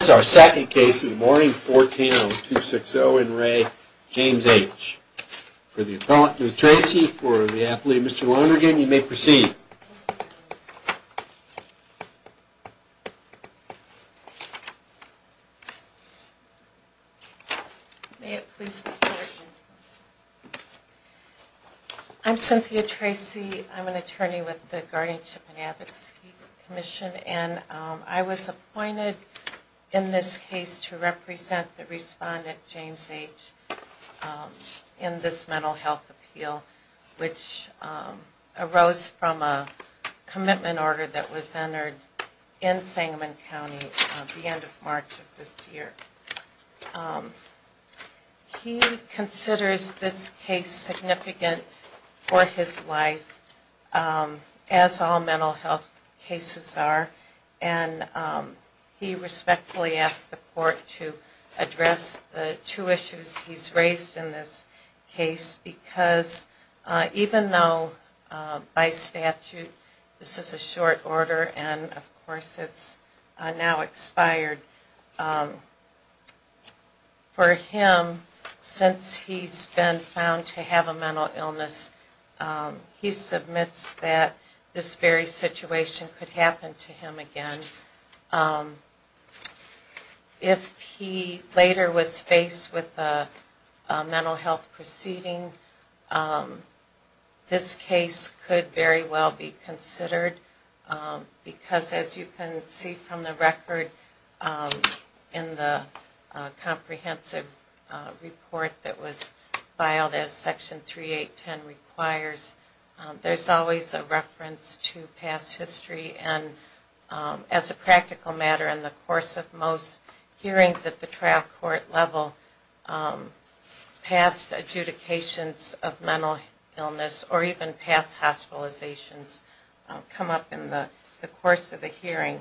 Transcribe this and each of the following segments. This is our second case in the morning, 14-0260 in re. James H. For the appellant, Ms. Tracy, for the athlete, Mr. Lonergan, you may proceed. May it please the court. I'm Cynthia Tracy. I'm an attorney with the Guardianship and Advocacy Commission, and I was appointed in this case to represent the respondent, James H., in this mental health appeal, which arose from a commitment order that was entered in Sangamon County at the end of March of this year. He considers this case significant for his life, as all mental health cases are, and he respectfully asked the court to address the two issues he's raised in this case, because even though by statute this is a short order, and of course it's now expired, for him, since he's been found to have a mental illness, he submits that this very situation could This case could very well be considered, because as you can see from the record in the comprehensive report that was filed as Section 3.8.10 requires, there's always a reference to past history, and as a practical matter, in the course of most hearings at the trial court level, past adjudications of mental illness, or even past hospitalizations, come up in the course of the hearing.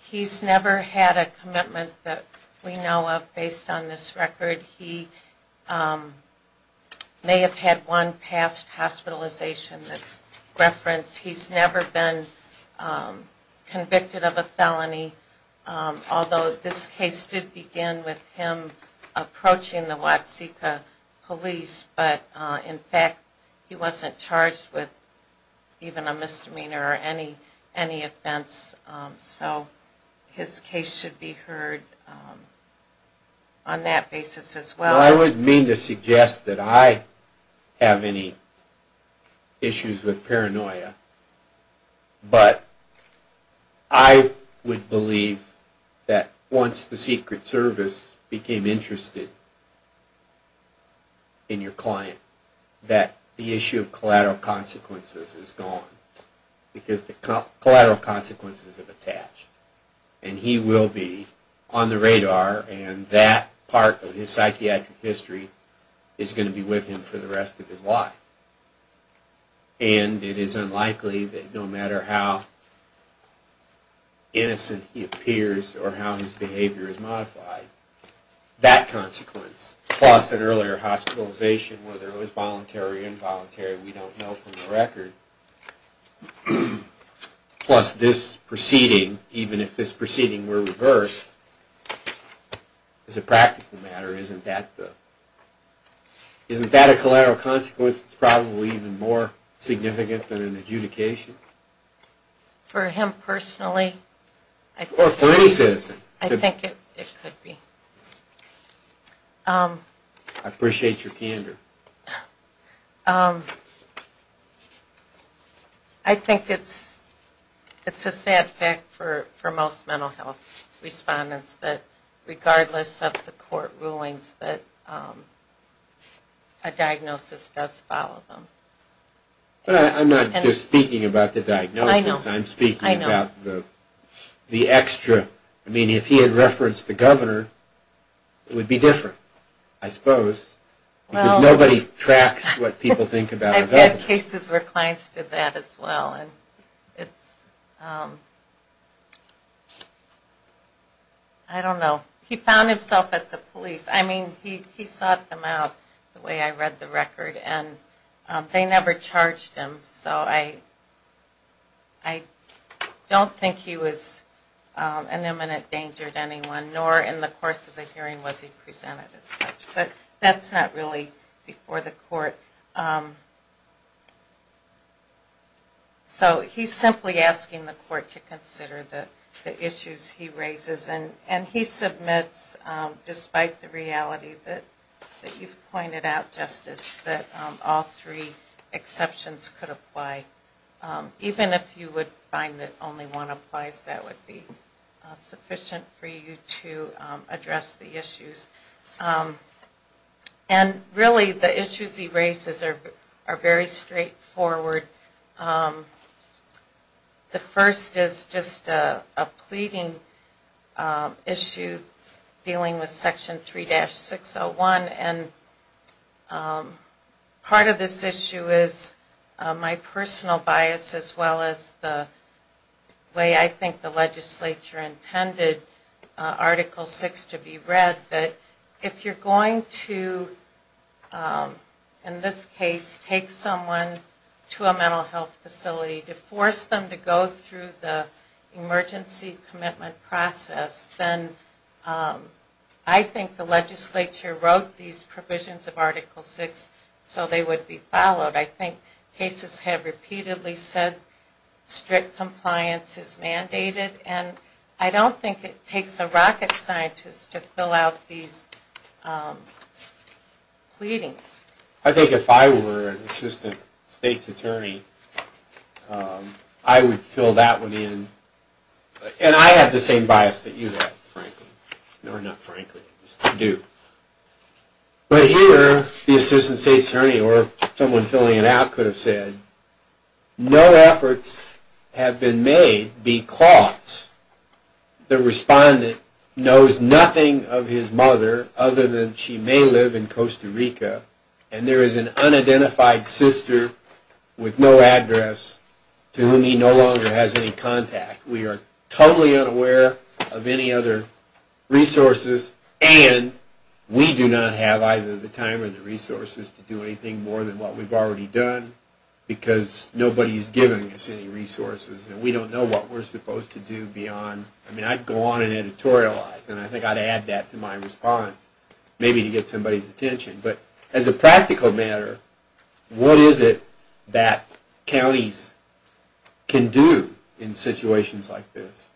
He's never had a commitment that we know of based on this record. He may have had one past hospitalization that's referenced. He's never been convicted of a felony, although this case did begin with him approaching the Watsika police, but in fact he wasn't charged with even a misdemeanor or any offense, so his case should be heard on that basis as well. Now I wouldn't mean to suggest that I have any issues with paranoia, but I would believe that once the Secret Service became interested in your client, that the issue of collateral consequences is gone, because the collateral consequences have attached, and he will be on the radar, and that part of his psychiatric history is going to be with him for the rest of his life, and it is unlikely that no matter how innocent he appears, or how his behavior is modified, that consequence, plus an earlier hospitalization, whether it was voluntary or involuntary, we don't know from the record, plus this proceeding, even if this proceeding were reversed, as a practical matter, isn't that a collateral consequence that's probably even more significant than an adjudication? For him personally? Or for any citizen. I think it could be. I appreciate your candor. I think it's a sad fact for most mental health respondents that regardless of the court rulings, that a diagnosis does follow them. But I'm not just speaking about the diagnosis, I'm speaking about the extra, I mean if he did reference the governor, it would be different, I suppose, because nobody tracks what people think about the governor. I've had cases where clients did that as well, and it's, I don't know. He found himself at the police, I mean he sought them out, the way I read the record, and they never charged him. So I don't think he was an imminent danger to anyone, nor in the course of the hearing was he presented as such. But that's not really before the court. So he's simply asking the court to consider the issues he raises, and he submits, despite the reality that you've pointed out, Justice, that all three exceptions could apply. Even if you would find that only one applies, that would be sufficient for you to address the issues. And really the issues he raises are very straightforward. The first is just a pleading issue dealing with Section 3-601, and part of this issue is my personal bias as well as the way I think the legislature intended Article 6 to be read, that if you're going to, in this case, take someone to a mental health facility to force them to go through the emergency commitment process, then I think the legislature wrote these provisions of Article 6 so they would be followed. I think cases have repeatedly said strict compliance is mandated, and I don't think it takes a rocket scientist to fill out these pleadings. I think if I were an assistant state's attorney, I would fill that one in, and I have the same bias that you have, frankly, or not frankly, you do. But here, the assistant state's attorney or someone filling it out could have said, no efforts have been made because the respondent knows nothing of his mother other than she may live in Costa Rica, and there is an unidentified sister with no address to whom he no longer has any contact. We are totally unaware of any other resources, and we do not have either the time or the resources, because nobody is giving us any resources, and we don't know what we're supposed to do beyond, I mean, I'd go on and editorialize, and I think I'd add that to my response, maybe to get somebody's attention. But as a practical matter, what is it that counties can do in situations like this?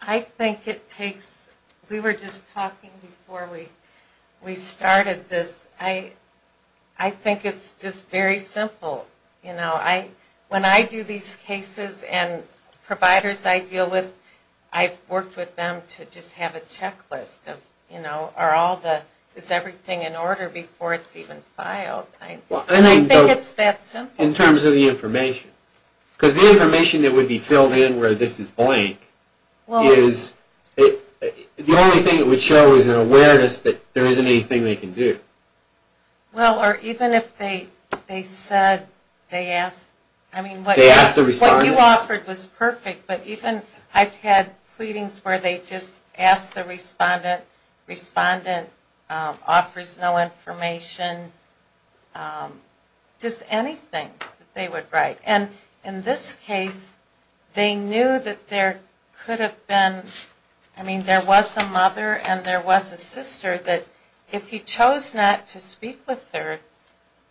I think it takes, we were just talking before we started this, I think it's just very simple. When I do these cases and providers I deal with, I've worked with them to just have a checklist of, you know, is everything in order before it's even filed? I think it's that simple. In terms of the information, because the information that would be filled in where this is blank is, the only thing it would show is an awareness that there isn't anything they can do. Well, or even if they said, they asked, I mean, what you offered was perfect, but even I've had pleadings where they just asked the respondent, respondent offers no information, just anything that they would write. And in this case, they knew that there could have been, I mean, there was a mother and there was a sister that if he chose not to speak with her,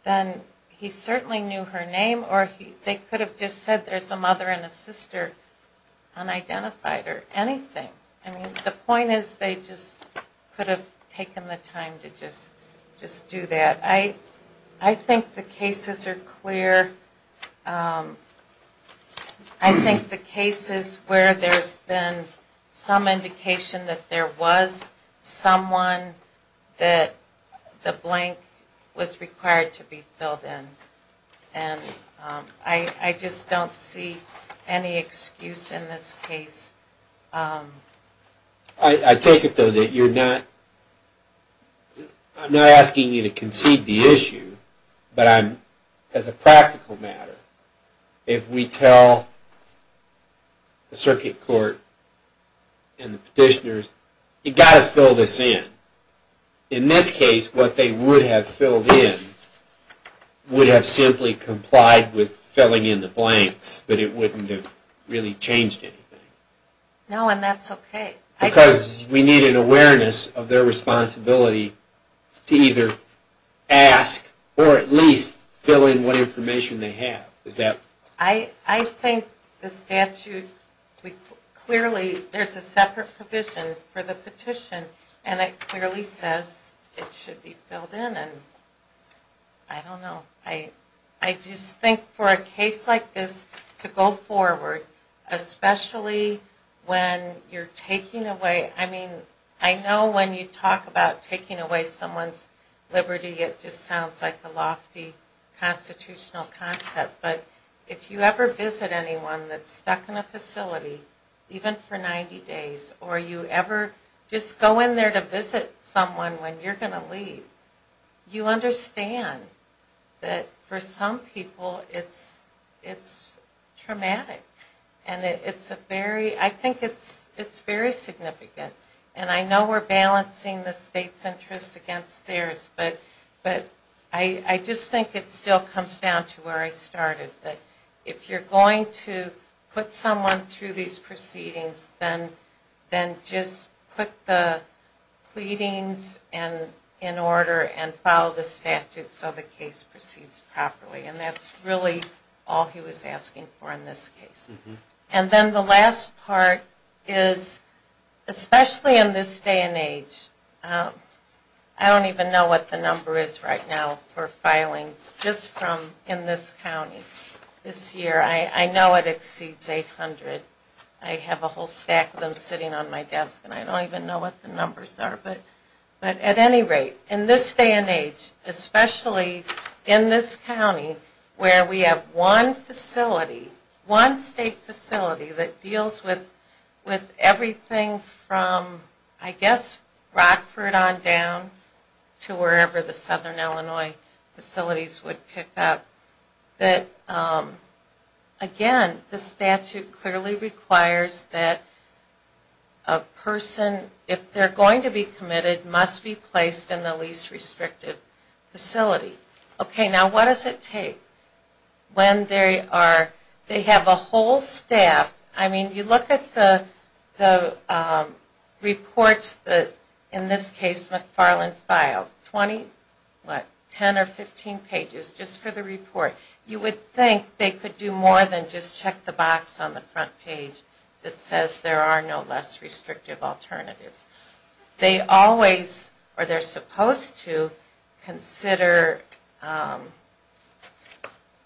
then he certainly knew her name or they could have just said there's a mother and a sister unidentified or anything. I mean, the point is they just could have taken the time to just do that. I think the cases are clear. I think the cases where there's been some indication that there was someone that the blank was required to be filled in. And I just don't see any excuse in this case. I take it though that you're not, I'm not asking you to concede the issue, but I'm, as a practical matter, if we tell the circuit court and the petitioners, you got to fill this in. In this case, what they would have filled in would have simply complied with filling in the blanks, but it wouldn't have really changed anything. No, and that's okay. Because we need an awareness of their responsibility to either ask or at least fill in what information they have. I think the statute, clearly there's a separate provision for the petition and it clearly says it should be filled in and I don't know. I just think for a case like this to go forward, especially when you're taking away, I mean, I know when you talk about taking away someone's liberty it just sounds like a lofty constitutional concept, but if you ever visit anyone that's stuck in a facility, even for 90 days, or you ever just go in there to visit someone when you're going to leave, you understand that for some people it's traumatic. And it's a very, I think it's very significant. And I know we're balancing the state's interest against theirs, but I just think it still comes down to where I started, that if you're going to put someone through these proceedings, then just put the pleadings in order and follow the statute so the case proceeds properly. And that's really all he was asking for in this case. And then the last part is, especially in this day and age, I don't even know what the number is right now for filings just from in this county this year. I know it exceeds 800. I have a whole stack of them sitting on my desk and I don't even know what the numbers are, but at any rate, in this day and age, especially in this county where we have one facility, one state facility that deals with everything from I guess Rockford on down to the Southern Illinois facilities would pick up, that again, the statute clearly requires that a person, if they're going to be committed, must be placed in the least restrictive facility. Okay, now what does it take when they have a whole staff? I mean, you look at the reports that in this case McFarland filed, 20, what, 10 or 15 pages just for the report. You would think they could do more than just check the box on the front page that says there are no less restrictive alternatives. They always, or they're supposed to, consider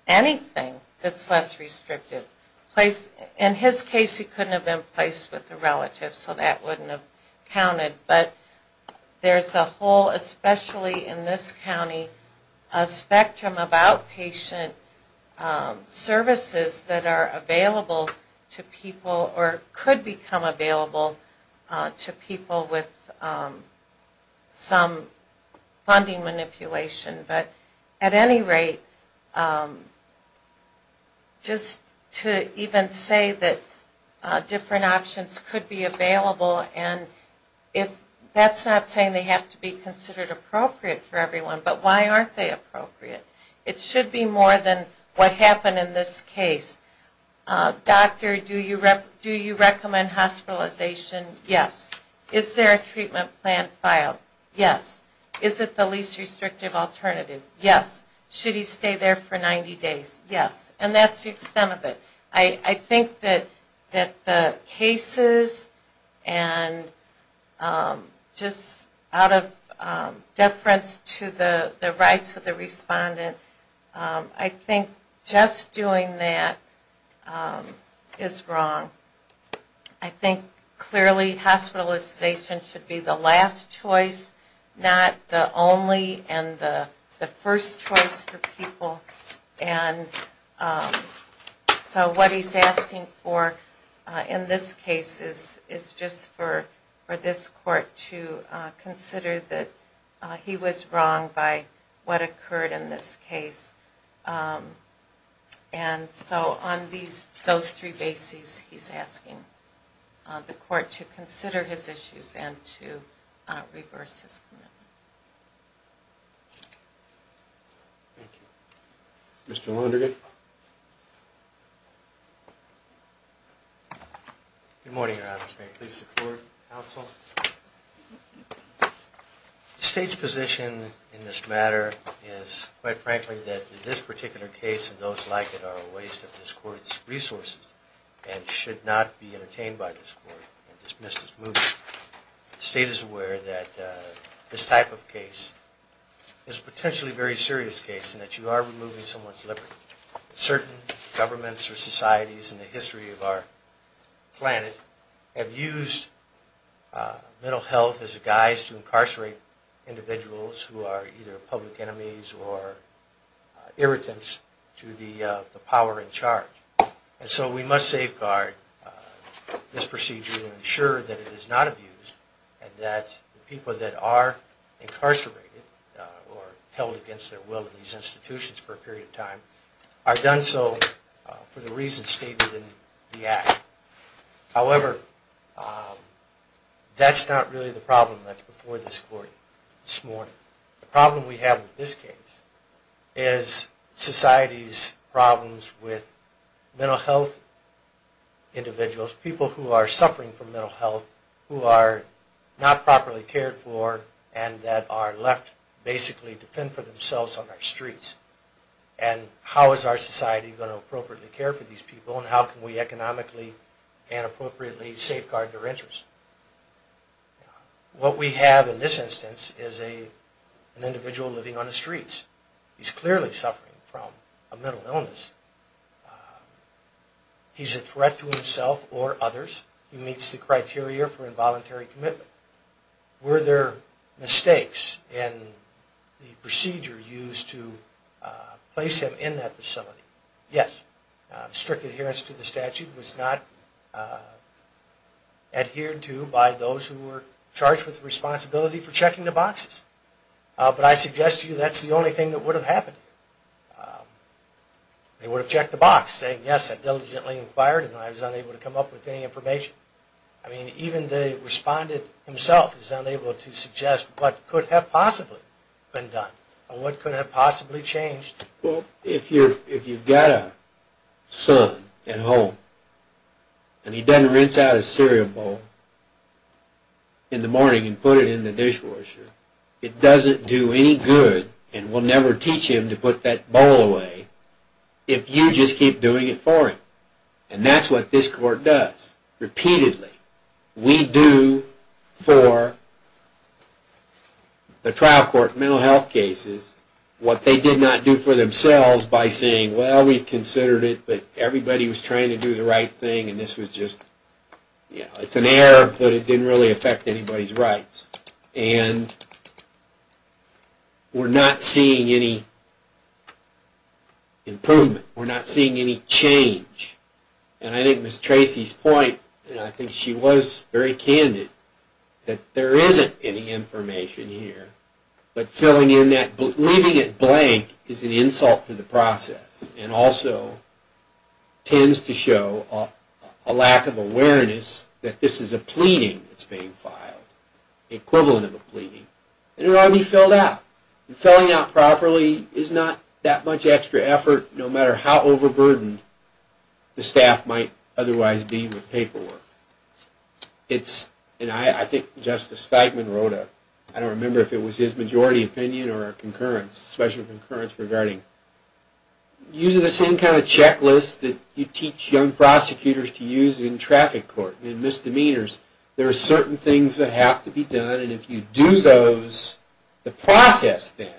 anything that's less restrictive. But in his case, he couldn't have been placed with a relative, so that wouldn't have counted. But there's a whole, especially in this county, a spectrum of outpatient services that are available to people or could become available to people with some funding manipulation. But at any rate, just to even say that different options could be available, and that's not saying they have to be considered appropriate for everyone, but why aren't they appropriate? It should be more than what happened in this case. Doctor, do you recommend hospitalization? Yes. Is there a treatment plan filed? Yes. Is it the least restrictive alternative? Yes. Should he stay there for 90 days? Yes. And that's the extent of it. I think that the cases and just out of deference to the rights of the respondent, I think just doing that is wrong. I think clearly hospitalization should be the last choice, not the only and the first choice for people. And so what he's asking for in this case is just for this court to consider that he was wrong by what occurred in this case. And so on those three bases, he's asking the court to consider his issues and to reverse his commitment. Thank you. Mr. Lonergan? Good morning, Your Honor. Please support counsel. The state's position in this matter is, quite frankly, that this particular case and those like it are a waste of this court's resources and should not be entertained by this court and dismissed as moot. The state is aware that this type of case is a potentially very serious case and that you are removing someone's liberty. Certain governments or societies in the history of our planet have used the use of this case of mental health as a guise to incarcerate individuals who are either public enemies or irritants to the power in charge. And so we must safeguard this procedure and ensure that it is not abused and that people that are incarcerated or held against their will in these institutions for a period of time are done so for the reasons stated in the act. However, that's not really the problem that's before this court this morning. The problem we have with this case is society's problems with mental health individuals, people who are suffering from mental health, who are not properly cared for and that are left basically to fend for themselves on our streets. And how is our society going to appropriately care for these people and how can we economically and appropriately safeguard their interests? What we have in this instance is an individual living on the streets. He's clearly suffering from a mental illness. He's a threat to himself or others. He meets the criteria for involuntary commitment. Were there mistakes in the procedure used to place him in that facility? Yes. Strict adherence to the statute was not adhered to by those who were charged with the responsibility for checking the boxes. But I suggest to you that's the only thing that would have happened. They would have checked the box saying, yes, I diligently inquired and I was unable to come up with any information. I mean, even the respondent himself is unable to suggest what could have possibly been done or what could have possibly changed. Well, if you've got a son at home and he doesn't rinse out a cereal bowl in the morning and put it in the dishwasher, it doesn't do any good and will never teach him to put that bowl away if you just keep doing it for him. And that's what this court does repeatedly. We do for the trial court mental health cases what they did not do for themselves by saying, well, we've considered it, but everybody was trying to do the right thing and this was just, you know, it's an error, but it didn't really affect anybody's rights. And we're not seeing any improvement. We're not seeing any change. And I think Ms. Tracy's point, and I think she was very candid, that there isn't any information here, but filling in that, leaving it blank is an insult to the process and also tends to show a lack of awareness that this is a pleading that's being filed, equivalent of a pleading, and it ought to be filled out. And filling out properly is not that much extra effort no matter how overburdened the staff might otherwise be with paperwork. It's, and I think Justice Steigman wrote a, I don't remember if it was his majority opinion or a concurrence, special concurrence regarding, using the same kind of checklist that you teach young prosecutors to use in traffic court and misdemeanors, there are certain things that have to be done and if you do those, the process then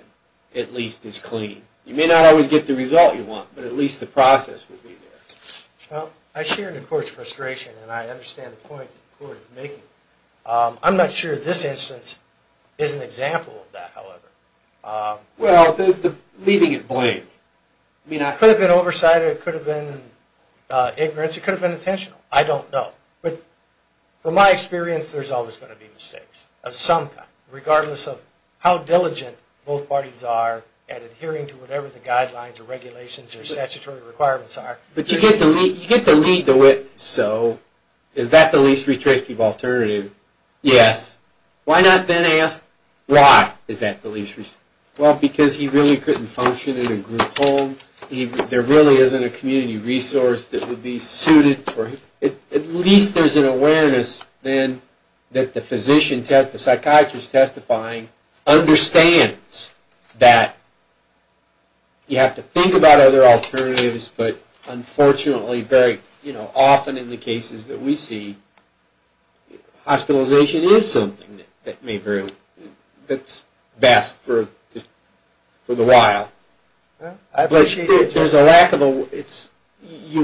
at least is clean. You may not always get the result you want, but at least the process will be there. Well, I share in the court's frustration and I understand the point the court is making. I'm not sure this instance is an example of that, however. Well, leaving it blank. I mean, it could have been oversight, it could have been ignorance, it could have been intentional. I don't know. But from my experience, there's always going to be mistakes of some kind, regardless of how diligent both parties are at adhering to whatever the guidelines or regulations or statutory requirements are. But you get to lead the witness, so is that the least restrictive alternative? Yes. Why not then ask why is that the least restrictive? Well, because he really couldn't function in a group home. There really isn't a community resource that would be suited for him. At least there's an awareness then that the physician, the psychiatrist testifying understands that you have to think about other alternatives, but unfortunately, very often in the cases that we see, hospitalization is something that's best for a while. But you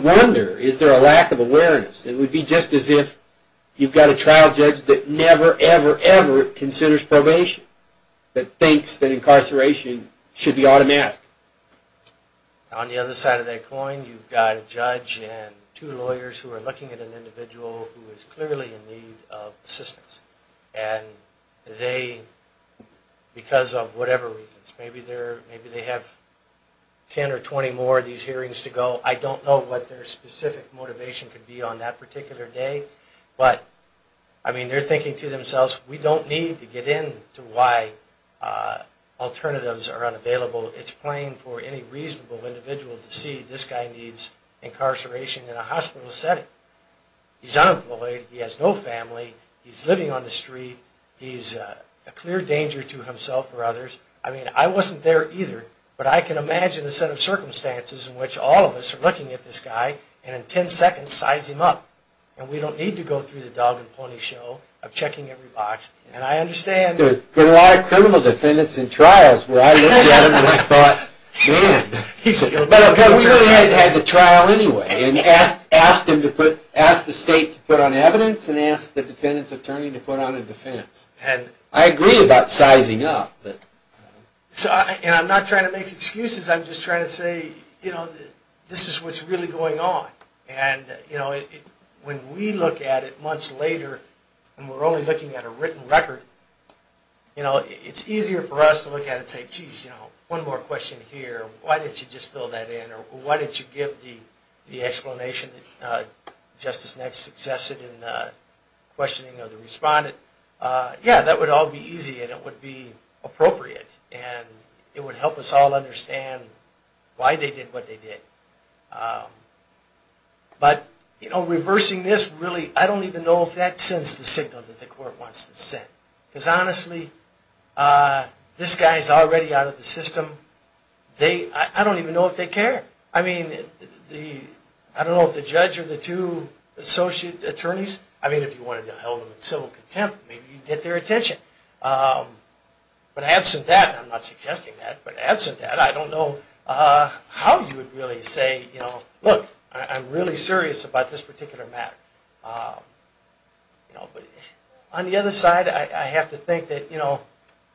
wonder, is there a lack of awareness? It would be just as if you've got a trial judge that never, ever, ever considers probation, that thinks that incarceration should be automatic. On the other side of that coin, you've got a judge and two lawyers who are looking at an individual who is clearly in need of assistance. And they, because of whatever reasons, maybe they have 10 or 20 more of these hearings to go. I don't know what their specific motivation could be on that particular day. But I mean, they're thinking to themselves, we don't need to get into why alternatives are unavailable. It's plain for any reasonable individual to see this guy needs incarceration in a hospital setting. He's unemployed. He has no family. He's living on the street. He's a clear danger to himself or others. I mean, I wasn't there either. But I can imagine the set of circumstances in which all of us are looking at this guy and in 10 seconds size him up. And we don't need to go through the dog and pony show of checking every box. And I understand. There have been a lot of criminal defendants in trials where I looked at them and I thought, man, we really had to have the trial anyway. Ask the state to put on evidence and ask the defendant's attorney to put on a defense. I agree about sizing up. And I'm not trying to make excuses. I'm just trying to say, this is what's really going on. And when we look at it months later and we're only looking at a written record, it's easier for us to look at it and say, jeez, one more question here. Why didn't you just fill that in? Why didn't you give the explanation that Justice Nett suggested in questioning of the respondent? Yeah, that would all be easy. And it would be appropriate. And it would help us all understand why they did what they did. But reversing this, really, I don't even know if that sends the signal that the court wants to send. Because honestly, this guy is already out of the system. I don't even know if they care. I mean, I don't know if the judge or the two associate attorneys, I mean, if you wanted to hold them in civil contempt, maybe you'd get their attention. But absent that, I'm not suggesting that, but absent that, I don't know how you would really say, look, I'm really serious about this particular matter. On the other side, I have to think that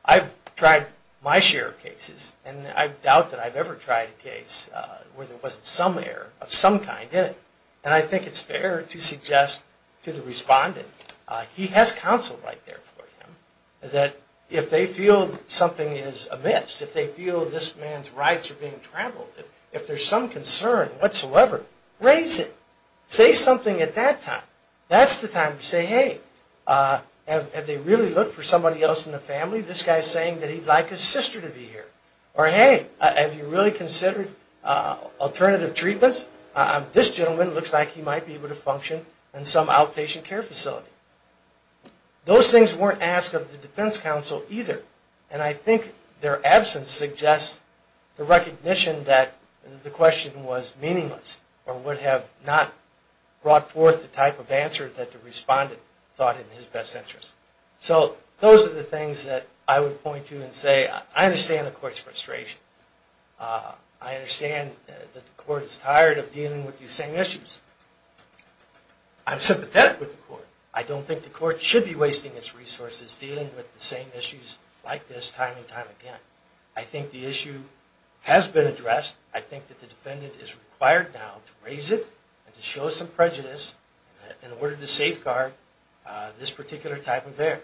I've tried my share of cases. And I doubt that I've ever tried a case where there wasn't some error of some kind in it. And I think it's fair to suggest to the respondent, he has counsel right there for him, that if they feel something is amiss, if they feel this man's rights are being trampled, if there's some concern whatsoever, raise it. Say something at that time. That's the time to say, hey, have they really looked for somebody else in the family? This guy's saying that he'd like his sister to be here. Or, hey, have you really considered alternative treatments? This gentleman looks like he might be able to function in some outpatient care facility. Those things weren't asked of the defense counsel either. And I think their absence suggests the recognition that the question was meaningless or would have not brought forth the type of answer that the respondent thought in his best interest. So those are the things that I would point to and say, I understand the court's frustration. I understand that the court is tired of dealing with these same issues. I'm sympathetic with the court. I don't think the court should be wasting its resources dealing with the same issues like this time and time again. I think the issue has been addressed. I think that the defendant is required now to raise it and to show some prejudice in this particular type of affair.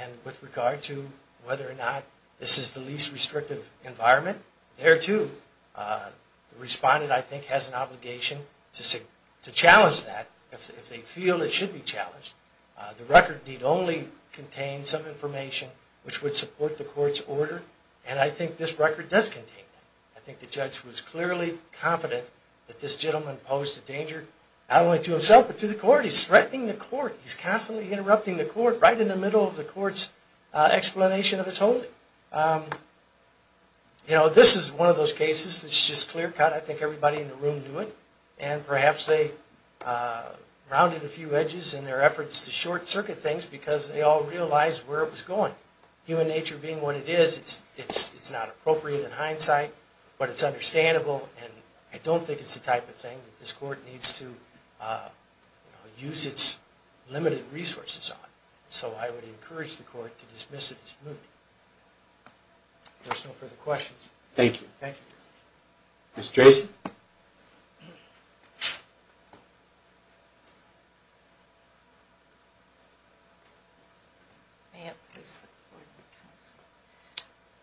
And with regard to whether or not this is the least restrictive environment, there too. The respondent, I think, has an obligation to challenge that if they feel it should be challenged. The record need only contain some information which would support the court's order. And I think this record does contain that. I think the judge was clearly confident that this gentleman posed a danger not only to himself but to the court. He's threatening the court. He's constantly interrupting the court right in the middle of the court's explanation of his holding. You know, this is one of those cases that's just clear cut. I think everybody in the room knew it. And perhaps they rounded a few edges in their efforts to short circuit things because they all realized where it was going. Human nature being what it is, it's not appropriate in hindsight. But it's understandable. And I don't think it's the type of thing that this court needs to use its limited resources on. So I would encourage the court to dismiss it as moot. There's no further questions. Thank you. Thank you. Ms. Dresen?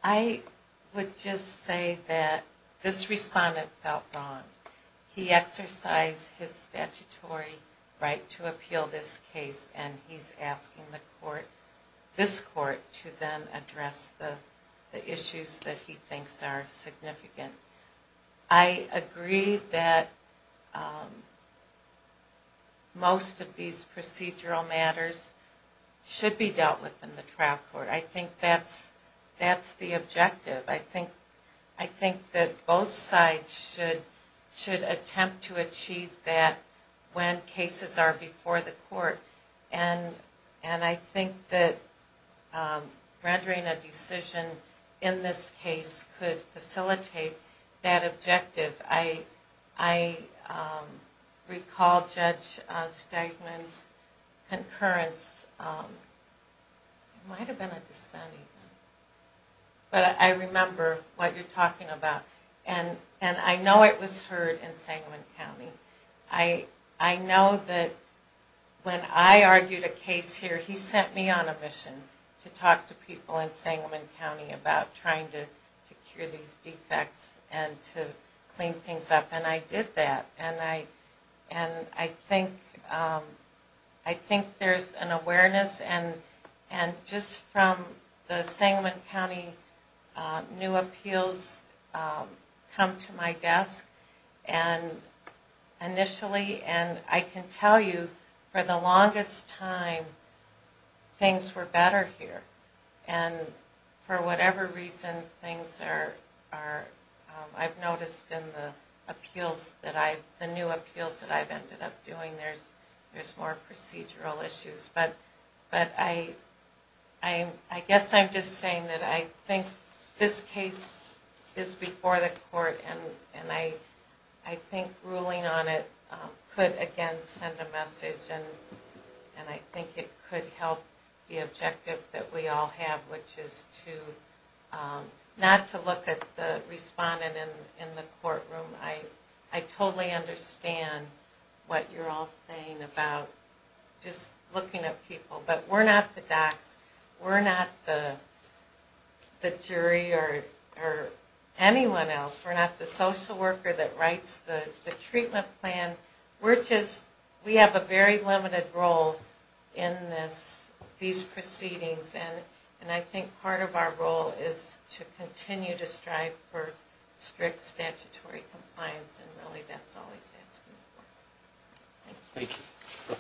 I would just say that this respondent felt wrong. He exercised his statutory right to appeal this case. And he's asking the court, this court, to then address the issues that he thinks are significant. I agree that most of these procedural matters should be dealt with in the trial court. I think that's the objective. I think that both sides should attempt to achieve that when cases are before the court. And I think that rendering a decision in this case could facilitate that objective. I recall Judge Steigman's concurrence, it might have been a dissent even, but I remember what you're talking about. And I know it was heard in Sangamon County. I know that when I argued a case here, he sent me on a mission to talk to people in Sangamon County about trying to cure these defects and to clean things up. And I did that. And just from the Sangamon County new appeals come to my desk initially. And I can tell you, for the longest time, things were better here. And for whatever reason, I've noticed in the appeals, the new appeals that I've ended up doing, there's more procedural issues. But I guess I'm just saying that I think this case is before the court. And I think ruling on it could, again, send a message. And I think it could help the objective that we all have, which is not to look at the respondent in the courtroom. I totally understand what you're all saying about just looking at people. But we're not the docs. We're not the jury or anyone else. We're not the social worker that writes the treatment plan. We have a very limited role in these proceedings. And I think part of our role is to continue to strive for strict statutory compliance. And really, that's all he's asking for. Thank you. Thank you. We'll take the matter under advice.